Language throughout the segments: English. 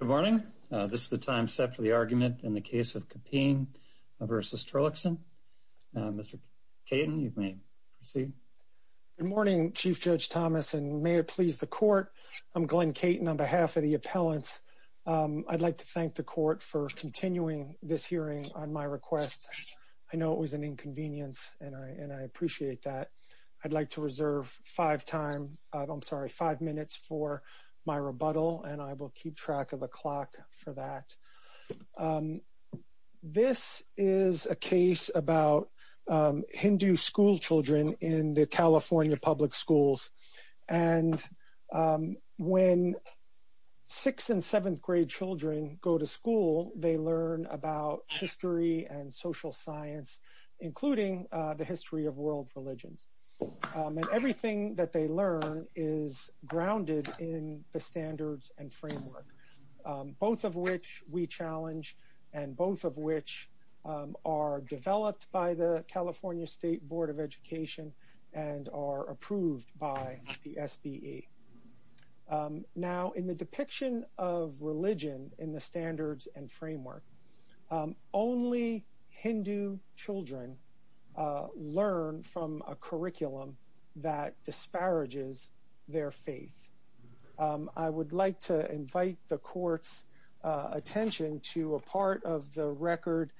Good morning. This is the time set for the argument in the case of CAPEEM v. Torlakson. Mr. Caton, you may proceed. Good morning, Chief Judge Thomas, and may it please the Court. I'm Glenn Caton on behalf of the appellants. I'd like to thank the Court for continuing this hearing on my request. I know it was an inconvenience, and I appreciate that. I'd like to reserve five minutes for my rebuttal, and I will keep track of the clock for that. This is a case about Hindu schoolchildren in the California public schools. And when sixth and seventh grade children go to school, they learn about history and social science, including the history of world religions. And everything that they learn is grounded in the standards and framework, both of which we challenge, and both of which are developed by the California State Board of Education and are approved by the SBE. Now, in the depiction of religion in the standards and framework, only Hindu children learn from a curriculum that disparages their faith. I would like to invite the Court's attention to a part of the record,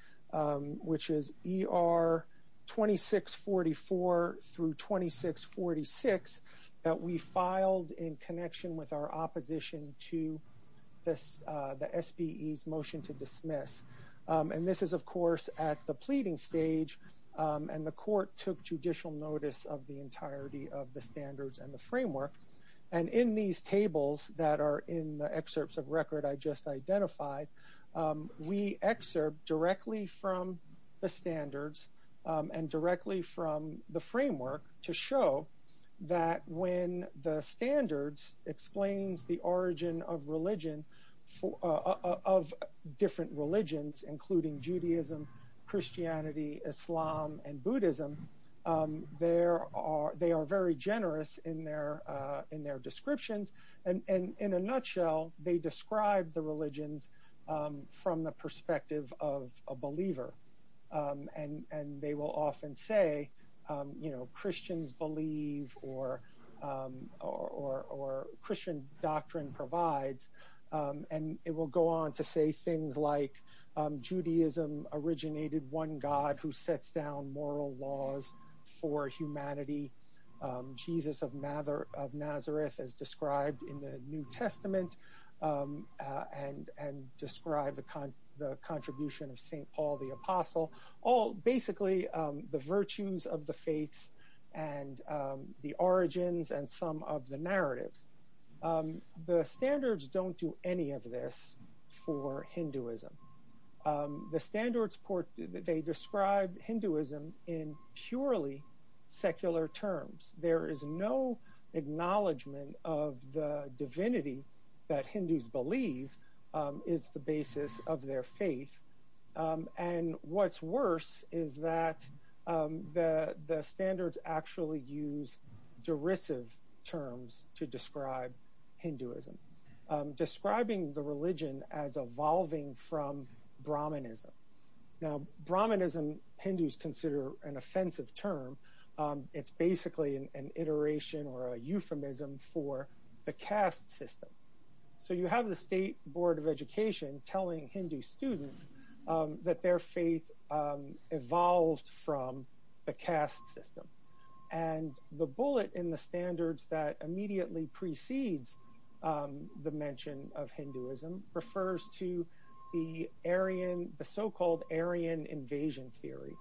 which is ER 2644 through 2646, that we filed in connection with our opposition to the SBE's motion to dismiss. And this is, of course, at the pleading stage, and the Court took judicial notice of the entirety of the standards and the framework. And in these tables that are in the excerpts of record I just identified, we excerpt directly from the standards and directly from the framework to show that when the standards explains the origin of different religions, including Judaism, Christianity, Islam, and Buddhism, they are very generous in their descriptions, and in a nutshell, they describe the religions from the perspective of a believer. And they will often say, you know, Christians believe or Christian doctrine provides. And it will go on to say things like Judaism originated one God who sets down moral laws for humanity. Jesus of Nazareth is described in the New Testament and described the contribution of St. Paul the Apostle. All basically the virtues of the faiths and the origins and some of the narratives. The standards don't do any of this for Hinduism. The standards describe Hinduism in purely secular terms. There is no acknowledgment of the divinity that Hindus believe is the basis of their faith. And what's worse is that the standards actually use derisive terms to describe Hinduism, describing the religion as evolving from Brahmanism. Now, Brahmanism Hindus consider an offensive term. It's basically an iteration or a euphemism for the caste system. So you have the State Board of Education telling Hindu students that their faith evolved from the caste system. And the bullet in the standards that immediately precedes the mention of Hinduism refers to the so-called Aryan invasion theory,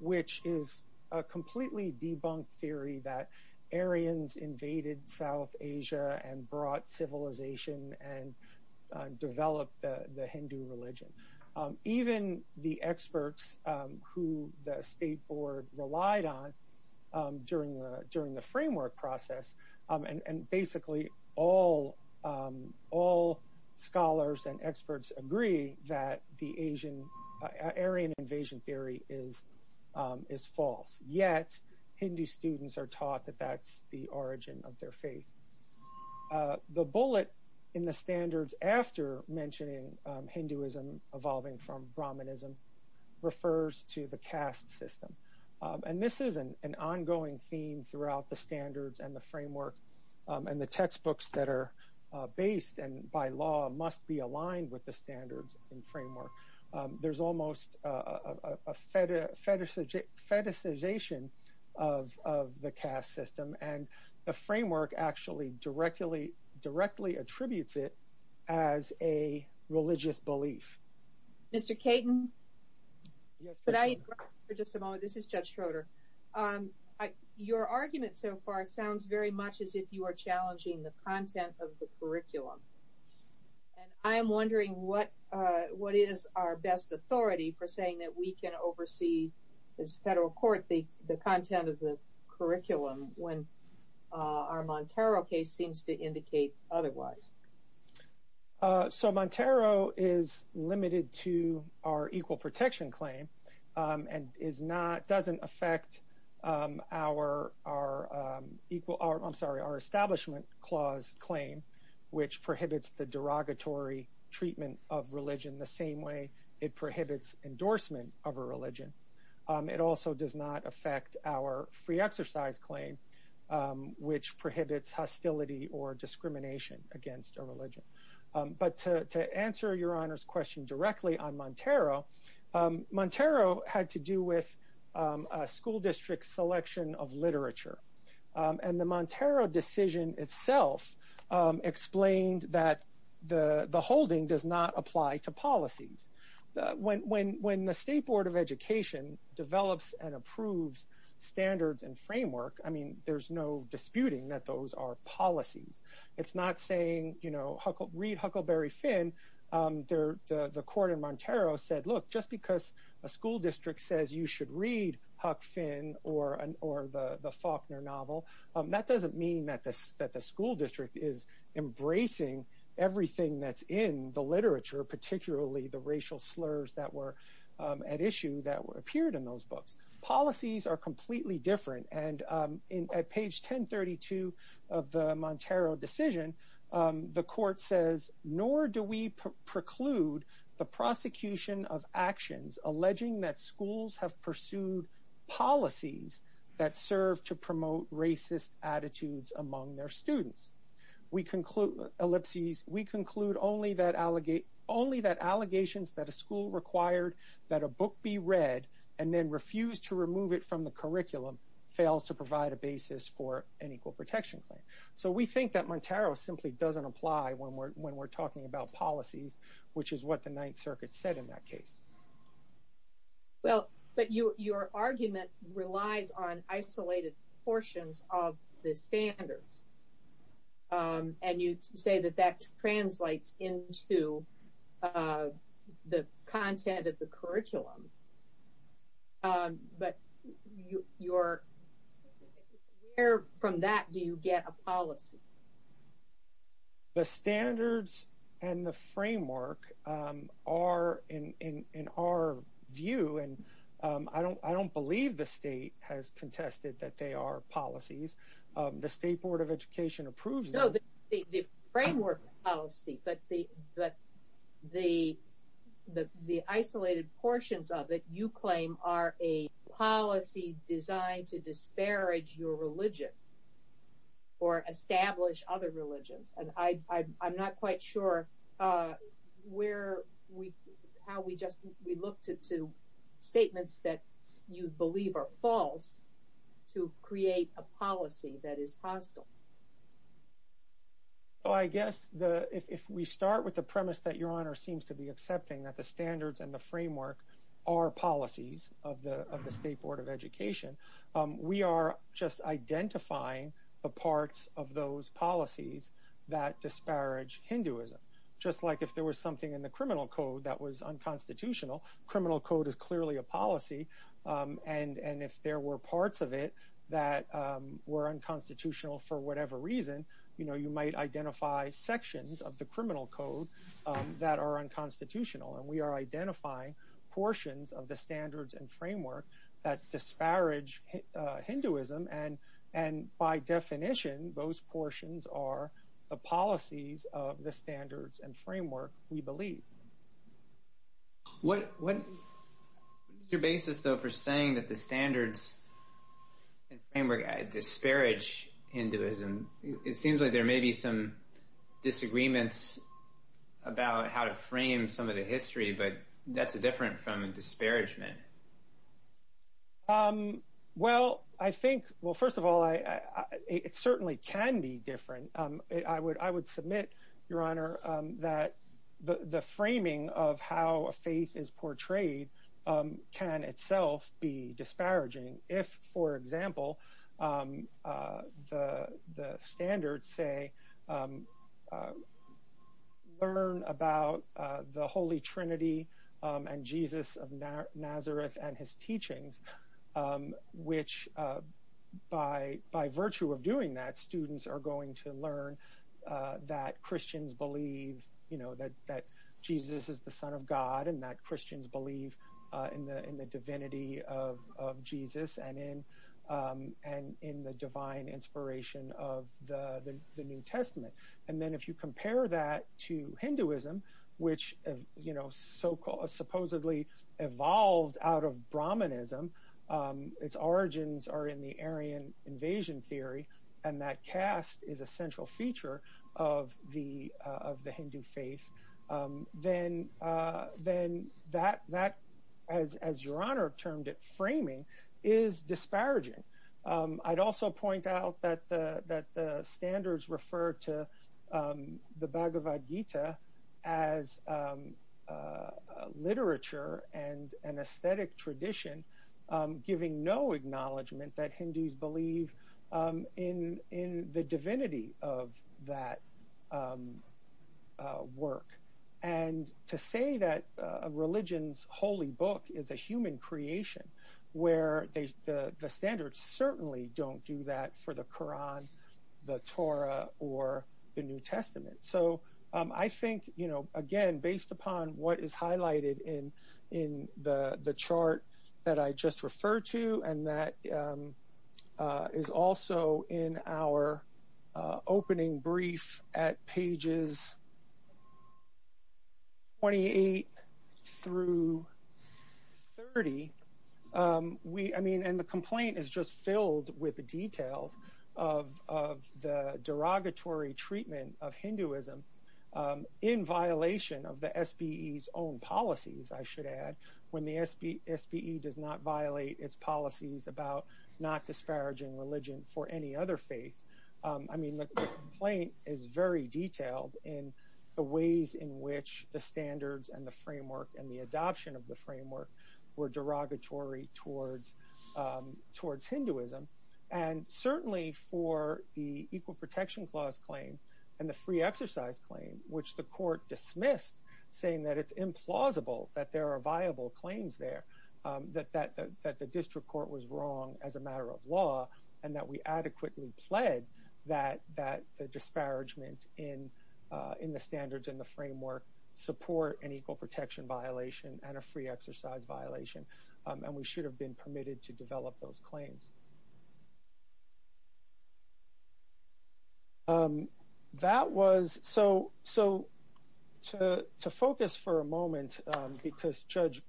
which is a completely debunked theory that Aryans invaded South Asia and brought civilization and developed the Hindu religion. Even the experts who the State Board relied on during the framework process, and basically all scholars and experts agree that the Aryan invasion theory is false. Yet, Hindu students are taught that that's the origin of their faith. The bullet in the standards after mentioning Hinduism evolving from Brahmanism refers to the caste system. And this is an ongoing theme throughout the standards and the framework, and the textbooks that are based and by law must be aligned with the standards and framework. There's almost a fetishization of the caste system, and the framework actually directly attributes it as a religious belief. Mr. Caton, could I interrupt for just a moment? This is Judge Schroeder. Your argument so far sounds very much as if you are challenging the content of the curriculum. And I'm wondering what is our best authority for saying that we can oversee as a federal court the content of the curriculum when our Montero case seems to indicate otherwise. Montero is limited to our Equal Protection Claim and doesn't affect our Establishment Clause claim, which prohibits the derogatory treatment of religion the same way it prohibits endorsement of a religion. It also does not affect our Free Exercise Claim, which prohibits hostility or discrimination against a religion. But to answer Your Honor's question directly on Montero, Montero had to do with a school district selection of literature. And the Montero decision itself explained that the holding does not apply to policies. When the State Board of Education develops and approves standards and framework, I mean, there's no disputing that those are policies. It's not saying, you know, read Huckleberry Finn. The court in Montero said, look, just because a school district says you should read Huck Finn or the Faulkner novel, that doesn't mean that the school district is embracing everything that's in the literature, particularly the racial slurs that were at issue that appeared in those books. Policies are completely different. And at page 1032 of the Montero decision, the court says, nor do we preclude the prosecution of actions alleging that schools have pursued policies that serve to promote racist attitudes among their students. We conclude, ellipses, we conclude only that allegations that a school required that a book be read and then refused to remove it from the curriculum fails to provide a basis for an equal protection claim. So we think that Montero simply doesn't apply when we're talking about policies, which is what the Ninth Circuit said in that case. Well, but your argument relies on isolated portions of the standards. And you say that that translates into the content of the curriculum. But where from that do you get a policy? The standards and the framework are in our view. And I don't believe the state has contested that they are policies. The State Board of Education approves them. So the framework policy, but the isolated portions of it you claim are a policy designed to disparage your religion or establish other religions. And I'm not quite sure where we, how we just, we looked at two statements that you believe are false to create a policy that is hostile. Oh, I guess if we start with the premise that your honor seems to be accepting that the standards and the framework are policies of the State Board of Education, we are just identifying the parts of those policies that disparage Hinduism. Just like if there was something in the criminal code that was unconstitutional, criminal code is clearly a policy. And if there were parts of it that were unconstitutional for whatever reason, you know, you might identify sections of the criminal code that are unconstitutional. And we are identifying portions of the standards and framework that disparage Hinduism. And by definition, those portions are the policies of the standards and framework we believe. What is your basis though for saying that the standards and framework disparage Hinduism? It seems like there may be some disagreements about how to frame some of the history, but that's different from disparagement. Well, I think, well, first of all, it certainly can be different. I would submit, your honor, that the framing of how a faith is portrayed can itself be disparaging. If, for example, the standards say, learn about the Holy Trinity and Jesus of Nazareth and his teachings, which by virtue of doing that, students are going to learn that Christians believe, you know, that Jesus is the son of God and that Christians believe in the divinity of Jesus and in the divine inspiration of the New Testament. And then if you compare that to Hinduism, which, you know, supposedly evolved out of Brahmanism, its origins are in the Aryan invasion theory, and that caste is a central feature of the Hindu faith, then that, as your honor termed it, framing, is disparaging. I'd also point out that the standards refer to the Bhagavad Gita as literature and an aesthetic tradition, giving no acknowledgment that Hindus believe in the divinity of that work. And to say that a religion's holy book is a human creation, where the standards certainly don't do that for the Koran, the Torah, or the New Testament. So I think, you know, again, based upon what is highlighted in the chart that I just referred to, and that is also in our opening brief at pages 28 through 30, I mean, and the complaint is just filled with the details of the derogatory treatment of Hinduism in violation of the SBE's own policies, I should add, when the SBE does not violate its policies about not disparaging religion for any other faith. I mean, the complaint is very detailed in the ways in which the standards and the framework and the adoption of the framework were derogatory towards Hinduism. And certainly for the Equal Protection Clause claim and the free exercise claim, which the court dismissed, saying that it's implausible that there are viable claims there, that the district court was wrong as a matter of law, and that we adequately pled that the disparagement in the standards and the framework support an equal protection violation and a free exercise violation. And we should have been permitted to develop those claims. That was, so to focus for a moment, because Judge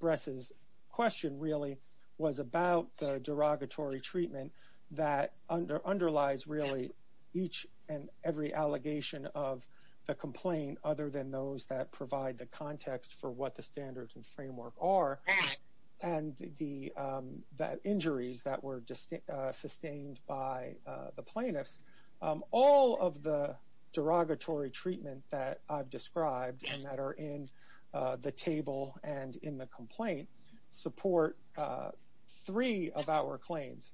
Bress's question really was about the derogatory treatment that underlies really each and every allegation of the complaint, other than those that provide the context for what the standards and framework are, and the injuries that were sustained by the plaintiffs. All of the derogatory treatment that I've described and that are in the table and in the complaint support three of our claims.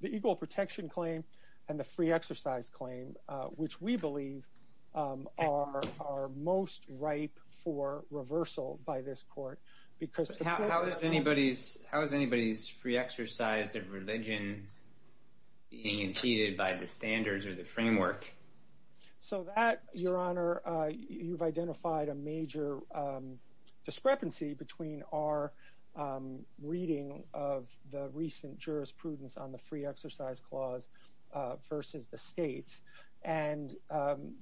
The Equal Protection Claim and the Free Exercise Claim, which we believe are most ripe for reversal by this court. How is anybody's free exercise of religion being impeded by the standards or the framework? So that, Your Honor, you've identified a major discrepancy between our reading of the recent jurisprudence on the free exercise clause versus the state's. And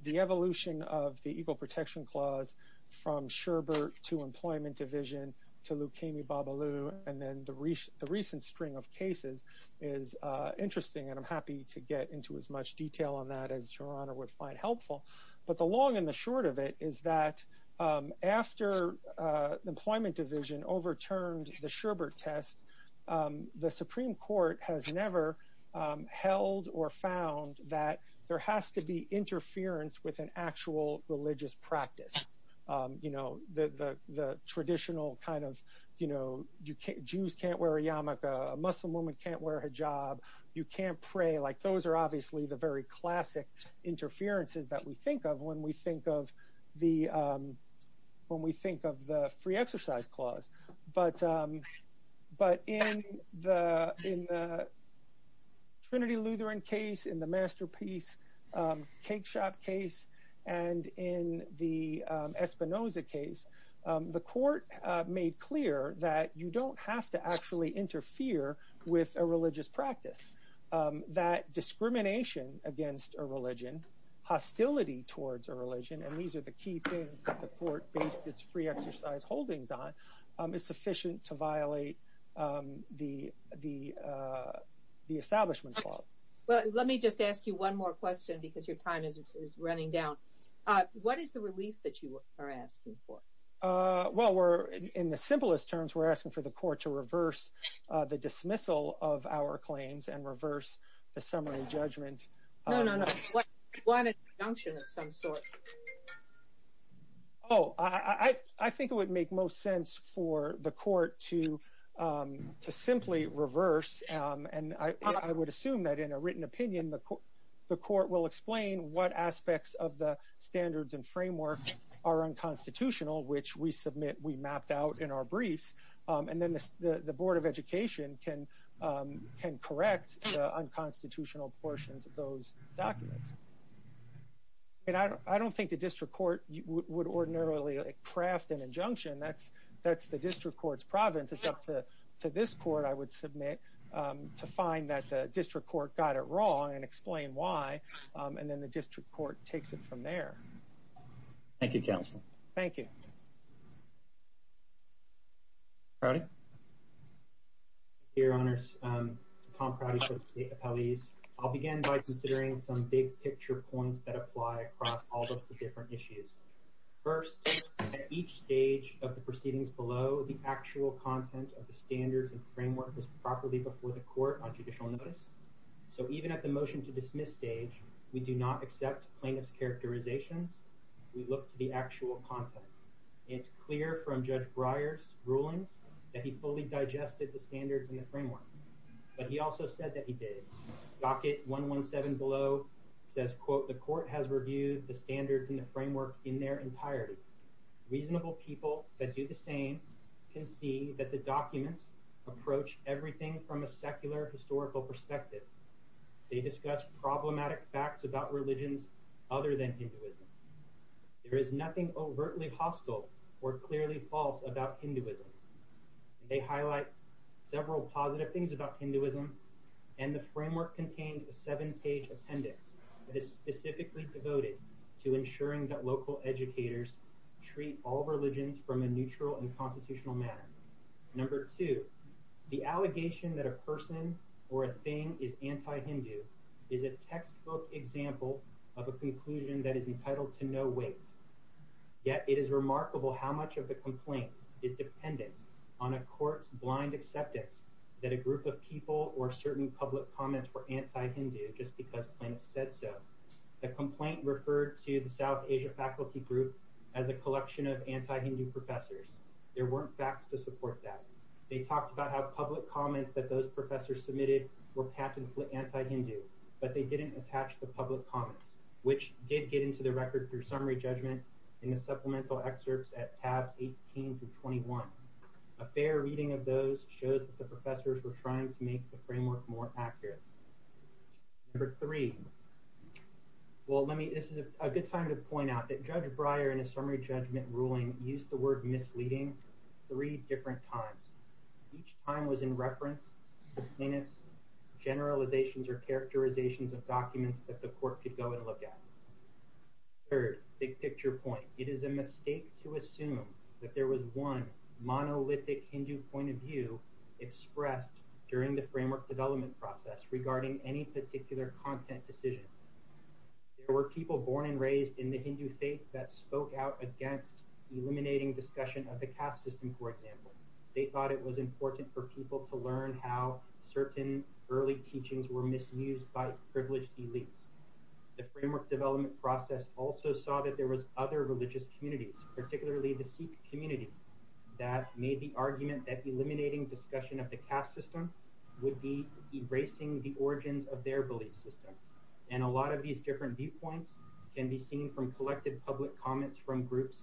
the evolution of the Equal Protection Clause from Sherbert to Employment Division to Leukemia Babalu and then the recent string of cases is interesting. And I'm happy to get into as much detail on that as Your Honor would find helpful. But the long and the short of it is that after Employment Division overturned the Sherbert test, the Supreme Court has never held or found that there has to be interference with an actual religious practice. You know, the traditional kind of, you know, Jews can't wear a yarmulke, a Muslim woman can't wear a hijab, you can't pray. Like, those are obviously the very classic interferences that we think of when we think of the free exercise clause. But in the Trinity Lutheran case, in the Masterpiece Cakeshop case, and in the Espinoza case, the court made clear that you don't have to actually interfere with a religious practice. That discrimination against a religion, hostility towards a religion, and these are the key things that the court based its free exercise holdings on, is sufficient to violate the establishment clause. Well, let me just ask you one more question because your time is running down. What is the relief that you are asking for? Well, we're, in the simplest terms, we're asking for the court to reverse the dismissal of our claims and reverse the summary judgment. No, no, no. What is the junction of some sort? Oh, I think it would make most sense for the court to simply reverse, and I would assume that in a written opinion the court will explain what aspects of the standards and framework are unconstitutional, which we submit, we mapped out in our briefs, and then the Board of Education can correct the unconstitutional portions of those documents. I don't think the district court would ordinarily craft an injunction. That's the district court's providence. It's up to this court, I would submit, to find that the district court got it wrong and explain why, and then the district court takes it from there. Thank you, counsel. Thank you. Proudy? Your Honors, Tom Proudy, Associate Appellees. I'll begin by considering some big-picture points that apply across all of the different issues. First, at each stage of the proceedings below, the actual content of the standards and framework was properly before the court on judicial notice. So even at the motion-to-dismiss stage, we do not accept plaintiff's characterizations. We look to the actual content. It's clear from Judge Breyer's rulings that he fully digested the standards and the framework, but he also said that he did. Docket 117 below says, quote, The court has reviewed the standards and the framework in their entirety. Reasonable people that do the same can see that the documents approach everything from a secular historical perspective. They discuss problematic facts about religions other than Hinduism. There is nothing overtly hostile or clearly false about Hinduism. They highlight several positive things about Hinduism, and the framework contains a seven-page appendix that is specifically devoted to ensuring that local educators treat all religions from a neutral and constitutional manner. Number two, the allegation that a person or a thing is anti-Hindu is a textbook example of a conclusion that is entitled to no weight. Yet it is remarkable how much of the complaint is dependent on a court's blind acceptance that a group of people or certain public comments were anti-Hindu just because plaintiff said so. The complaint referred to the South Asia Faculty Group as a collection of anti-Hindu professors. There weren't facts to support that. They talked about how public comments that those professors submitted were pat and flit anti-Hindu, but they didn't attach the public comments, which did get into the record through summary judgment in the supplemental excerpts at tabs 18 through 21. A fair reading of those shows that the professors were trying to make the framework more accurate. Number three, well, this is a good time to point out that Judge Breyer, in a summary judgment ruling, used the word misleading three different times. Each time was in reference to plaintiff's generalizations or characterizations of documents that the court could go and look at. Third, big picture point, it is a mistake to assume that there was one monolithic Hindu point of view expressed during the framework development process regarding any particular content decision. There were people born and raised in the Hindu faith that spoke out against eliminating discussion of the caste system, for example. They thought it was important for people to learn how certain early teachings were misused by privileged elites. The framework development process also saw that there was other religious communities, particularly the Sikh community, that made the argument that eliminating discussion of the caste system would be erasing the origins of their belief system. And a lot of these different viewpoints can be seen from collected public comments from groups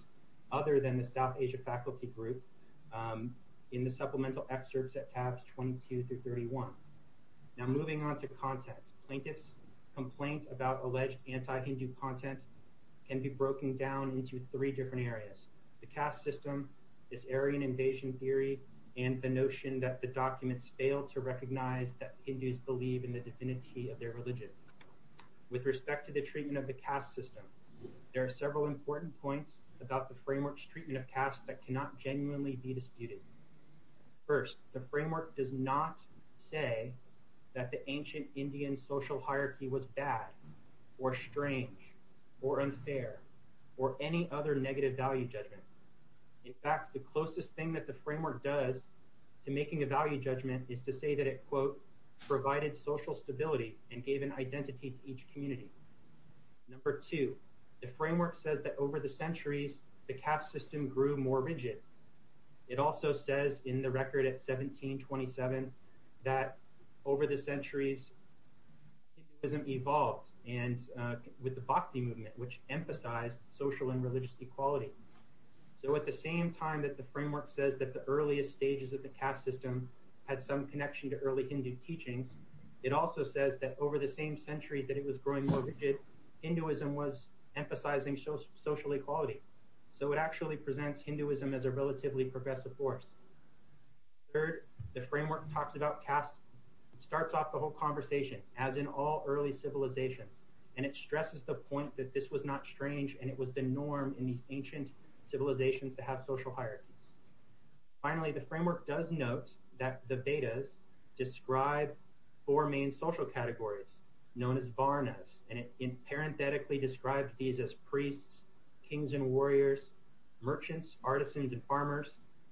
other than the South Asia faculty group in the supplemental excerpts at tabs 22 through 31. Now moving on to content, plaintiff's complaint about alleged anti-Hindu content can be broken down into three different areas. The caste system, this Aryan invasion theory, and the notion that the documents fail to recognize that Hindus believe in the divinity of their religion. With respect to the treatment of the caste system, there are several important points about the framework's treatment of caste that cannot genuinely be disputed. First, the framework does not say that the ancient Indian social hierarchy was bad or strange or unfair or any other negative value judgment. In fact, the closest thing that the framework does to making a value judgment is to say that it, quote, provided social stability and gave an identity to each community. Number two, the framework says that over the centuries, the caste system grew more rigid. It also says in the record at 1727 that over the centuries, Hinduism evolved with the Bhakti movement, which emphasized social and religious equality. So at the same time that the framework says that the earliest stages of the caste system had some connection to early Hindu teachings, it also says that over the same centuries that it was growing more rigid, Hinduism was emphasizing social equality. So it actually presents Hinduism as a relatively progressive force. Third, the framework talks about caste, starts off the whole conversation as in all early civilizations, and it stresses the point that this was not strange and it was the norm in these ancient civilizations to have social hierarchies. Finally, the framework does note that the Vedas describe four main social categories known as varnas, and it parenthetically describes these as priests, kings and warriors, merchants, artisans and farmers,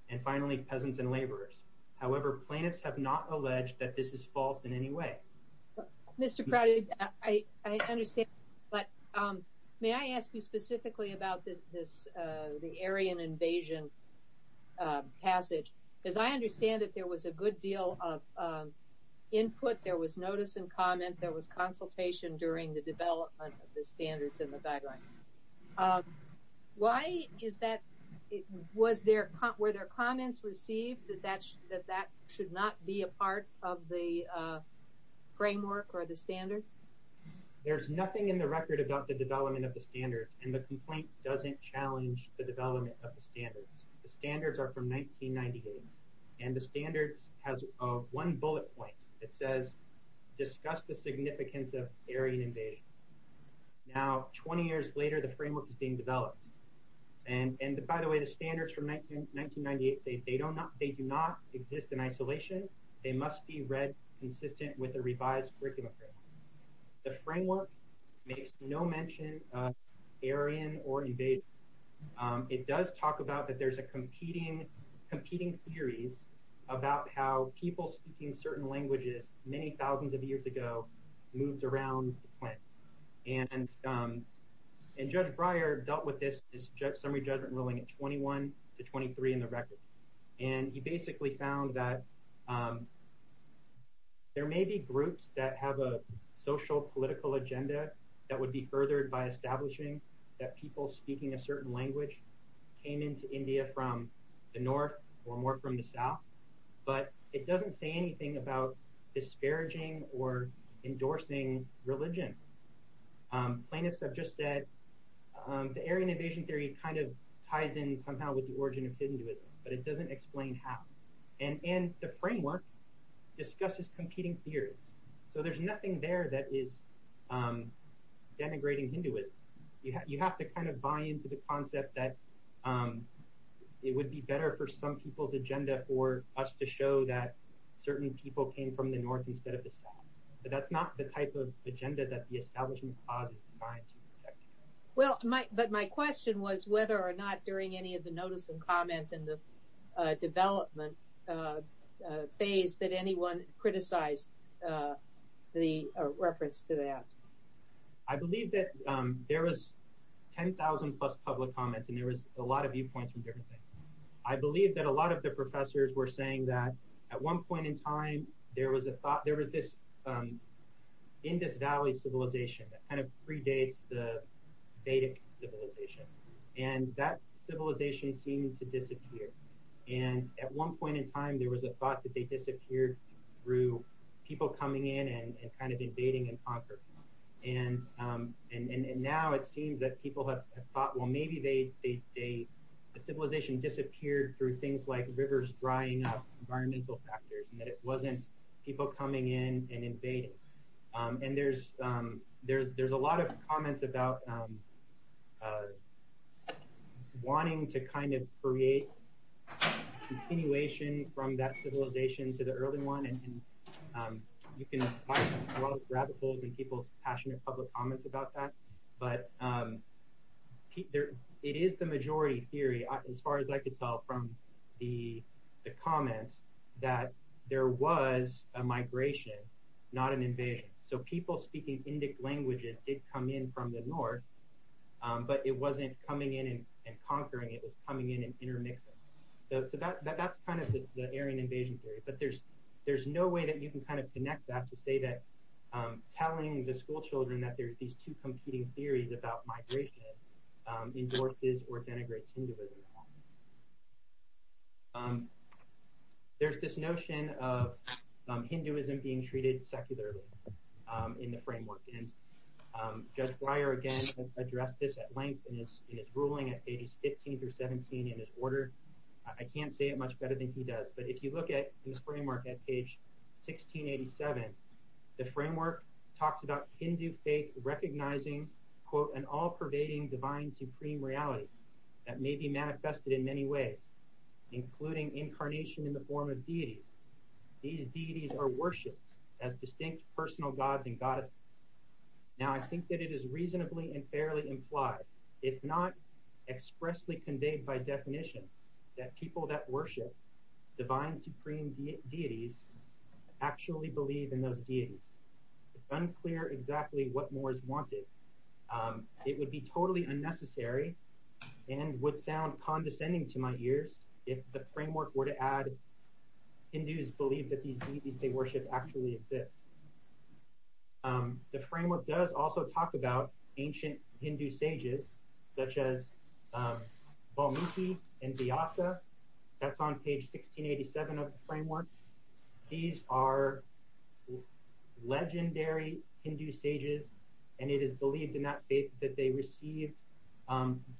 and finally peasants and laborers. However, plaintiffs have not alleged that this is false in any way. Mr. Prouty, I understand, but may I ask you specifically about the Aryan invasion passage? Because I understand that there was a good deal of input, there was notice and comment, there was consultation during the development of the standards in the guidelines. Why is that? Were there comments received that that should not be a part of the framework or the standards? There's nothing in the record about the development of the standards, and the complaint doesn't challenge the development of the standards. The standards are from 1998, and the standards have one bullet point that says, discuss the significance of Aryan invasion. Now, 20 years later, the framework is being developed. And by the way, the standards from 1998 say they do not exist in isolation. They must be read consistent with the revised curriculum. The framework makes no mention of Aryan or invading. It does talk about that there's a competing theories about how people speaking certain languages many thousands of years ago moved around the planet. And Judge Breyer dealt with this summary judgment ruling at 21 to 23 in the record. And he basically found that there may be groups that have a social political agenda that would be furthered by establishing that people speaking a certain language came into India from the north or more from the south. But it doesn't say anything about disparaging or endorsing religion. Plaintiffs have just said the Aryan invasion theory kind of ties in somehow with the origin of Hinduism, but it doesn't explain how. And the framework discusses competing theories. So there's nothing there that is denigrating Hinduism. You have to kind of buy into the concept that it would be better for some people's agenda for us to show that certain people came from the north instead of the south. But that's not the type of agenda that the establishment clause is designed to protect. Well, but my question was whether or not during any of the notice and comment in the development phase that anyone criticized the reference to that. I believe that there was 10,000 plus public comments and there was a lot of viewpoints from different things. I believe that a lot of the professors were saying that at one point in time, there was this Indus Valley civilization that kind of predates the Vedic civilization. And that civilization seemed to disappear. And at one point in time, there was a thought that they disappeared through people coming in and kind of invading and conquering. And now it seems that people have thought, well, maybe the civilization disappeared through things like rivers drying up, environmental factors, and that it wasn't people coming in and invading. And there's a lot of comments about wanting to kind of create continuation from that civilization to the early one. You can grab a hold of people's passionate public comments about that. But it is the majority theory, as far as I could tell from the comments, that there was a migration, not an invasion. So people speaking Indic languages did come in from the north, but it wasn't coming in and conquering. It was coming in and intermixing. So that's kind of the Aryan invasion theory. But there's no way that you can kind of connect that to say that telling the schoolchildren that there's these two competing theories about migration endorses or denigrates Hinduism. There's this notion of Hinduism being treated secularly in the framework. Judge Breyer, again, has addressed this at length in his ruling at pages 15 through 17 in his order. I can't say it much better than he does. But if you look at the framework at page 1687, the framework talks about Hindu faith recognizing, quote, Now, I think that it is reasonably and fairly implied, if not expressly conveyed by definition, that people that worship divine supreme deities actually believe in those deities. It's unclear exactly what more is wanted. It would be totally unnecessary and would sound condescending to my ears if the framework were to add Hindus believe that these deities they worship actually exist. The framework does also talk about ancient Hindu sages, such as Valmiki and Vyasa. That's on page 1687 of the framework. These are legendary Hindu sages, and it is believed in that faith that they received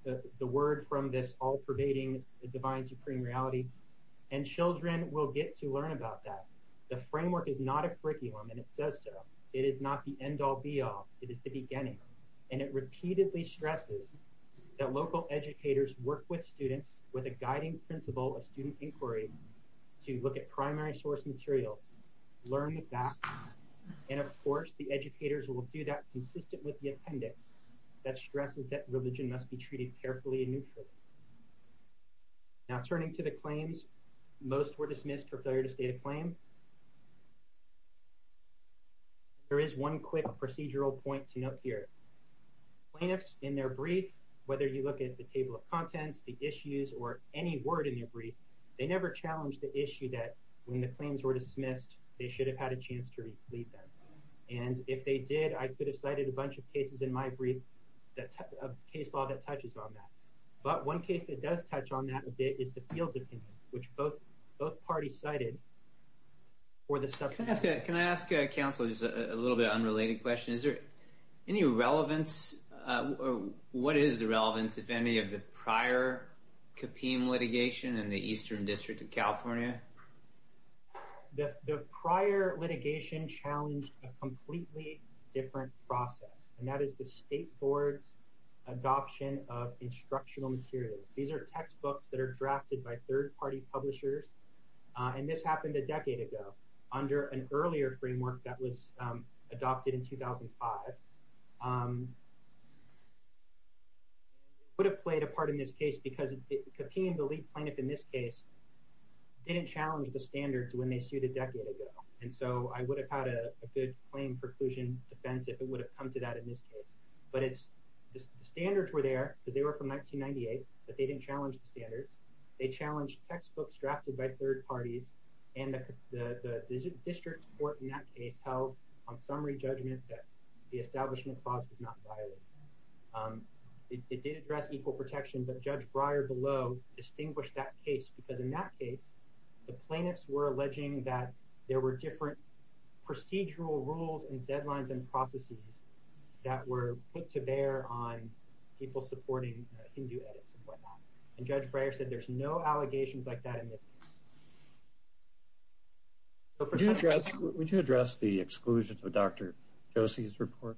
the word from this all-pervading divine supreme reality. And children will get to learn about that. The framework is not a curriculum, and it says so. It is not the end-all, be-all. It is the beginning. And it repeatedly stresses that local educators work with students with a guiding principle of student inquiry to look at primary source materials, learn the facts. And, of course, the educators will do that consistent with the appendix that stresses that religion must be treated carefully and neutrally. Now, turning to the claims, most were dismissed for failure to state a claim. There is one quick procedural point to note here. Plaintiffs, in their brief, whether you look at the table of contents, the issues, or any word in their brief, they never challenged the issue that when the claims were dismissed, they should have had a chance to read them. And if they did, I could have cited a bunch of cases in my brief of case law that touches on that. But one case that does touch on that a bit is the Fields Opinion, which both parties cited for the subpoena. Can I ask counsel just a little bit of an unrelated question? Is there any relevance, or what is the relevance, if any, of the prior Kapim litigation in the Eastern District of California? The prior litigation challenged a completely different process, and that is the State Board's adoption of instructional materials. These are textbooks that are drafted by third-party publishers, and this happened a decade ago under an earlier framework that was adopted in 2005. It would have played a part in this case because Kapim, the lead plaintiff in this case, didn't challenge the standards when they sued a decade ago. And so I would have had a good claim preclusion defense if it would have come to that in this case. But the standards were there because they were from 1998, but they didn't challenge the standards. They challenged textbooks drafted by third parties, and the district court in that case held on summary judgment that the establishment clause was not violated. It did address equal protection, but Judge Breyer below distinguished that case because in that case, the plaintiffs were alleging that there were different procedural rules and deadlines and processes that were put to bear on people supporting Hindu edits and whatnot. And Judge Breyer said there's no allegations like that in this case. Would you address the exclusion to Dr. Josie's report?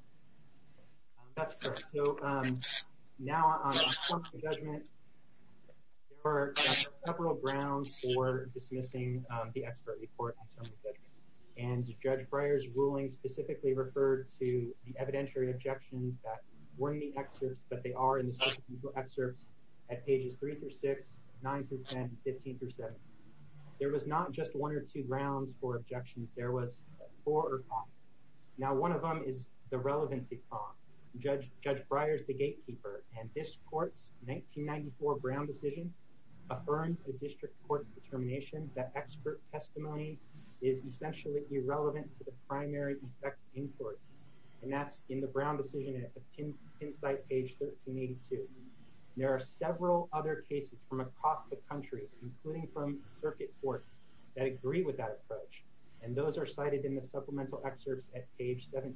That's correct. So now on summary judgment, there are several grounds for dismissing the expert report on summary judgment. And Judge Breyer's ruling specifically referred to the evidentiary objections that weren't in the excerpts, but they are in the subsequent excerpts at pages 3 through 6, 9 through 10, 15 through 17. There was not just one or two grounds for objections. There was four or five. Now, one of them is the relevancy problem. Judge Breyer's the gatekeeper, and this court's 1994 Brown decision affirmed the district court's determination that expert testimony is essentially irrelevant to the primary effect in court. And that's in the Brown decision at insight page 1382. There are several other cases from across the country, including from circuit courts, that agree with that approach, and those are cited in the supplemental excerpts at page 17.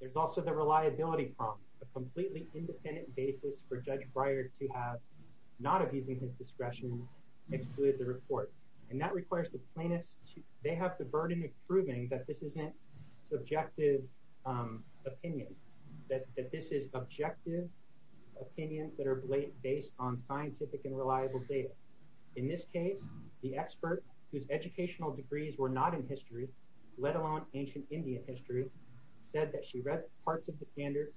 There's also the reliability problem, a completely independent basis for Judge Breyer to have, not abusing his discretion, excluded the report. And that requires the plaintiffs, they have the burden of proving that this isn't subjective opinion, that this is objective opinions that are based on scientific and reliable data. In this case, the expert, whose educational degrees were not in history, let alone ancient Indian history, said that she read parts of the standards,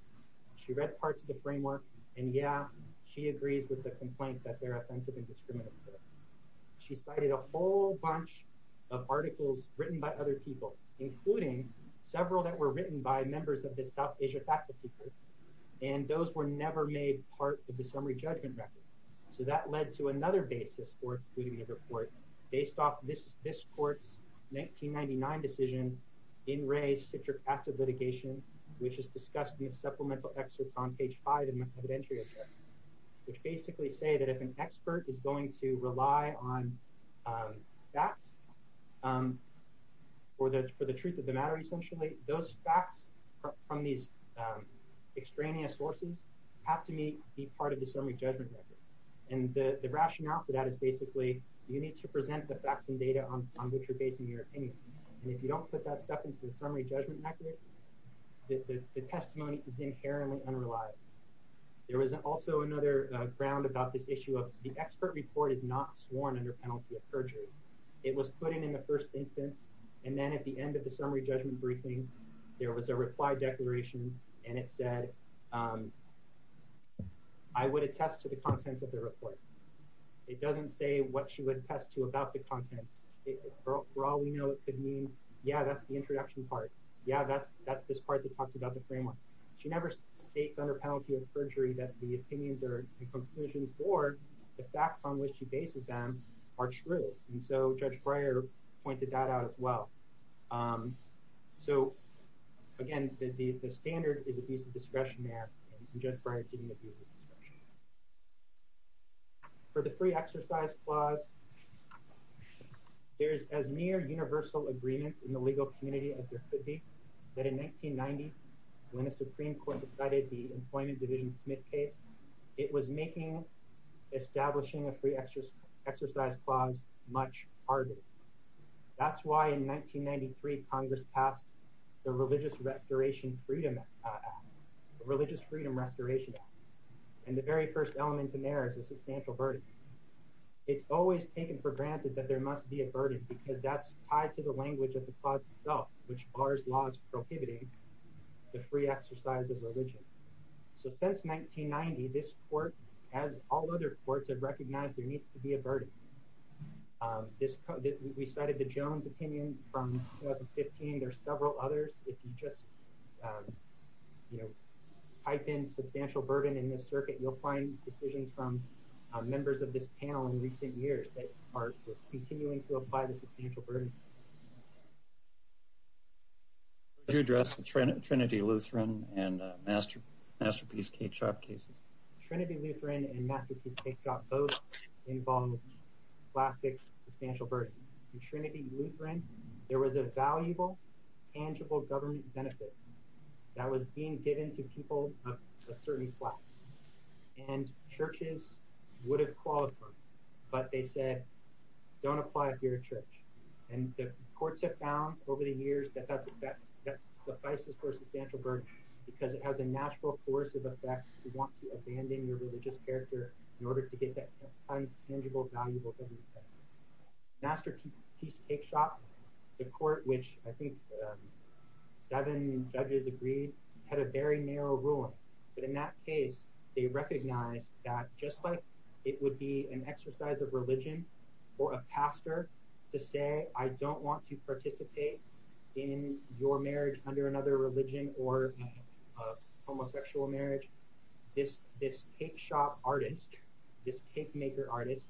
she read parts of the framework, and yeah, she agrees with the complaint that they're offensive and discriminatory. She cited a whole bunch of articles written by other people, including several that were written by members of the South Asia faculty group, and those were never made part of the summary judgment record. So that led to another basis for excluding the report, based off this court's 1999 decision, in race, citric acid litigation, which is discussed in the supplemental excerpts on page five of the entry, which basically say that if an expert is going to rely on facts for the truth of the matter, essentially, those facts from these extraneous sources have to be part of the summary judgment record. And the rationale for that is basically, you need to present the facts and data on which you're basing your opinion. And if you don't put that stuff into the summary judgment record, the testimony is inherently unreliable. There was also another ground about this issue of the expert report is not sworn under penalty of perjury. It was put in in the first instance, and then at the end of the summary judgment briefing, there was a reply declaration, and it said, I would attest to the contents of the report. It doesn't say what she would attest to about the contents. For all we know, it could mean, yeah, that's the introduction part. Yeah, that's this part that talks about the framework. She never states under penalty of perjury that the opinions or conclusions or the facts on which she bases them are true. And so Judge Breyer pointed that out as well. So again, the standard is abuse of discretion there, and Judge Breyer didn't abuse of discretion. For the free exercise clause, there's as near universal agreement in the legal community as there could be, that in 1990, when the Supreme Court decided the Employment Division Smith case, it was making establishing a free exercise clause much harder. That's why in 1993, Congress passed the Religious Freedom Restoration Act, and the very first element in there is a substantial burden. It's always taken for granted that there must be a burden because that's tied to the language of the clause itself, which bars laws prohibiting the free exercise of religion. So since 1990, this court, as all other courts have recognized, there needs to be a burden. We cited the Jones opinion from 2015. There are several others. If you just type in substantial burden in this circuit, you'll find decisions from members of this panel in recent years that are continuing to apply the substantial burden. Would you address the Trinity Lutheran and Masterpiece K-Chop cases? Trinity Lutheran and Masterpiece K-Chop both involve classic substantial burden. In Trinity Lutheran, there was a valuable tangible government benefit that was being given to people of a certain class. And churches would have called for it, but they said, don't apply it here at church. And the courts have found over the years that that's suffices for a substantial burden because it has a natural coercive effect if you want to abandon your religious character in order to get that tangible, valuable government benefit. Masterpiece K-Chop, the court, which I think seven judges agreed, had a very narrow ruling. But in that case, they recognized that just like it would be an exercise of religion for a pastor to say, I don't want to participate in your marriage under another religion or homosexual marriage, this K-Chop artist, this cake maker artist,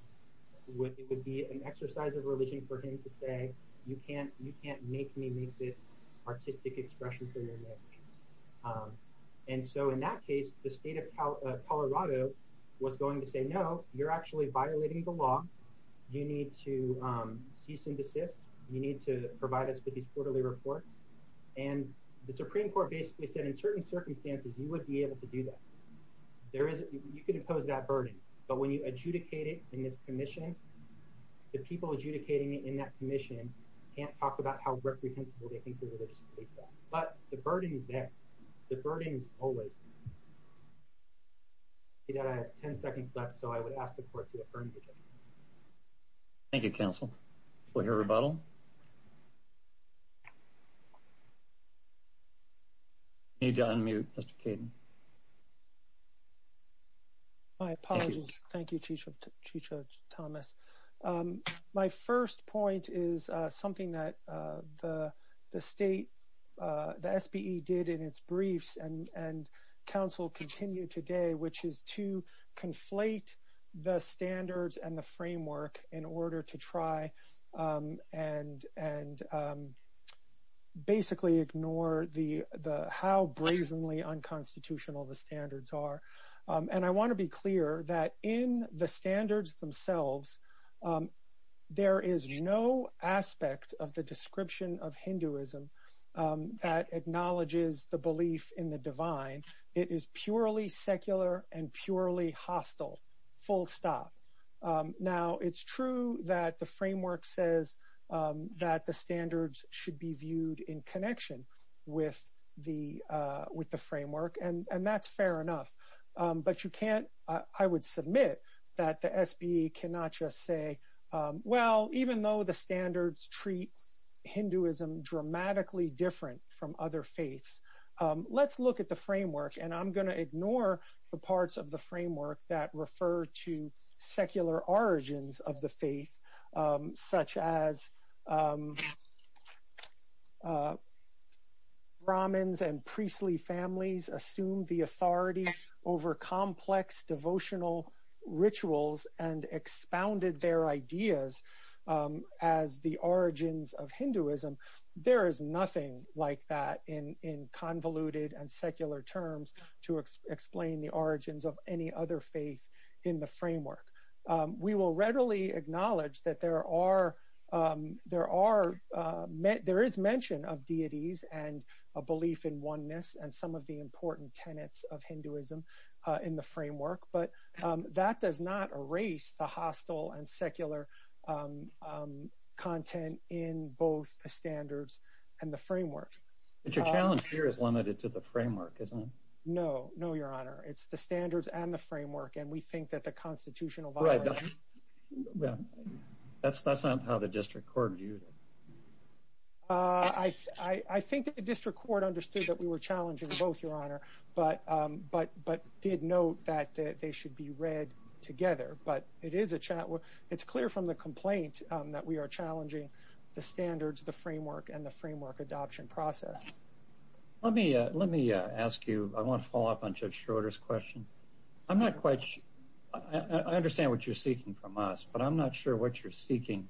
it would be an exercise of religion for him to say, you can't make me make this artistic expression for your marriage. And so in that case, the state of Colorado was going to say, no, you're actually violating the law. You need to cease and desist. You need to provide us with these quarterly reports. And the Supreme Court basically said in certain circumstances, you would be able to do that. You could impose that burden. But when you adjudicate it in this commission, the people adjudicating it in that commission can't talk about how reprehensible they think the religious state is. But the burden is there. The burden is always there. I have 10 seconds left, so I would ask the court to affirm the judgment. Thank you, counsel. We'll hear rebuttal. I need to unmute, Mr. Kaden. My apologies. Thank you, Chief Judge Thomas. My first point is something that the state, the SBE did in its briefs and counsel continued today, which is to conflate the standards and the framework in order to try and basically ignore how brazenly unconstitutional the standards are. And I want to be clear that in the standards themselves, there is no aspect of the description of Hinduism that acknowledges the belief in the divine. It is purely secular and purely hostile, full stop. Now, it's true that the framework says that the standards should be viewed in connection with the framework, and that's fair enough. But you can't, I would submit that the SBE cannot just say, well, even though the standards treat Hinduism dramatically different from other faiths, let's look at the framework. And I'm going to ignore the parts of the framework that refer to secular origins of the faith, such as Brahmins and priestly families assumed the authority over complex devotional rituals and expounded their ideas as the origins of Hinduism. There is nothing like that in convoluted and secular terms to explain the origins of any other faith in the framework. We will readily acknowledge that there is mention of deities and a belief in oneness and some of the important tenets of Hinduism in the framework, but that does not erase the hostile and secular content in both the standards and the framework. But your challenge here is limited to the framework, isn't it? No, no, Your Honor. It's the standards and the framework, and we think that the constitutional violation... Right. That's not how the district court viewed it. I think that the district court understood that we were challenging both, Your Honor, but did note that they should be read together. But it is a challenge. It's clear from the complaint that we are challenging the standards, the framework, and the framework adoption process. Let me ask you, I want to follow up on Judge Schroeder's question. I understand what you're seeking from us, but I'm not sure what you're seeking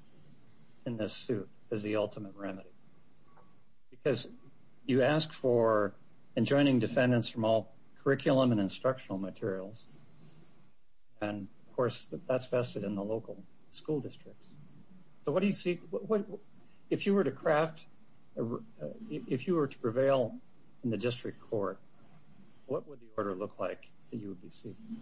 in this suit as the ultimate remedy. Because you ask for enjoining defendants from all curriculum and instructional materials, and of course, that's vested in the local school districts. So what do you seek? If you were to prevail in the district court, what would the order look like that you would be seeking?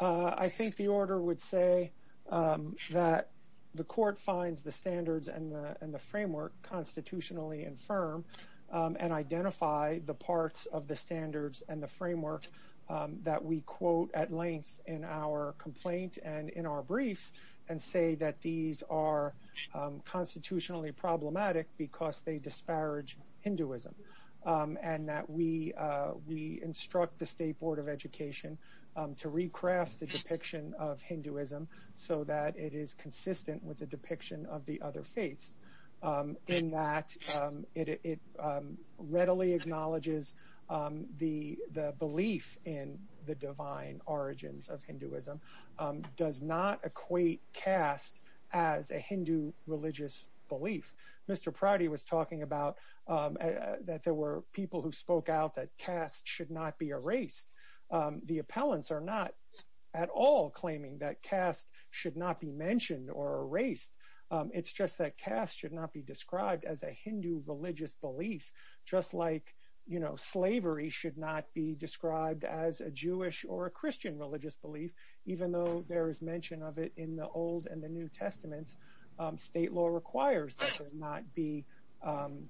I think the order would say that the court finds the standards and the framework constitutionally infirm, and identify the parts of the standards and the framework that we quote at length in our complaint and in our briefs, and say that these are constitutionally problematic because they disparage Hinduism, and that we instruct the State Board of Education to recraft the depiction of Hinduism so that it is consistent with the depiction of the other faiths, in that it readily acknowledges the belief in the divine origins of Hinduism does not equate caste as a Hindu religious belief. Mr. Prouty was talking about that there were people who spoke out that caste should not be erased. The appellants are not at all claiming that caste should not be mentioned or erased. It's just that caste should not be described as a Hindu religious belief, just like slavery should not be described as a Jewish or a Christian religious belief, even though there is mention of it in the Old and the New Testaments. State law requires that there not be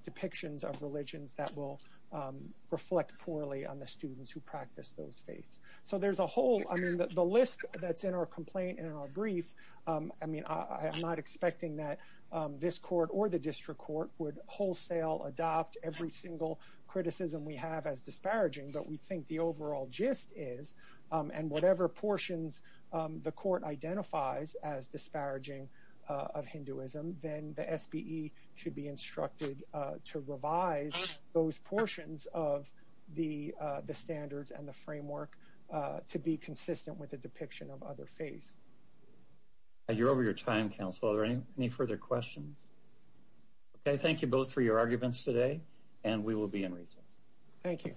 depictions of religions that will reflect poorly on the students who practice those faiths. The list that's in our complaint and in our briefs, I'm not expecting that this court or the district court would wholesale adopt every single criticism we have as disparaging, but we think the overall gist is, and whatever portions the court identifies as disparaging of Hinduism, then the SBE should be instructed to revise those portions of the standards and the framework to be consistent with the depiction of other faiths. You're over your time, counsel. Are there any further questions? Thank you both for your arguments today, and we will be in recess. Thank you.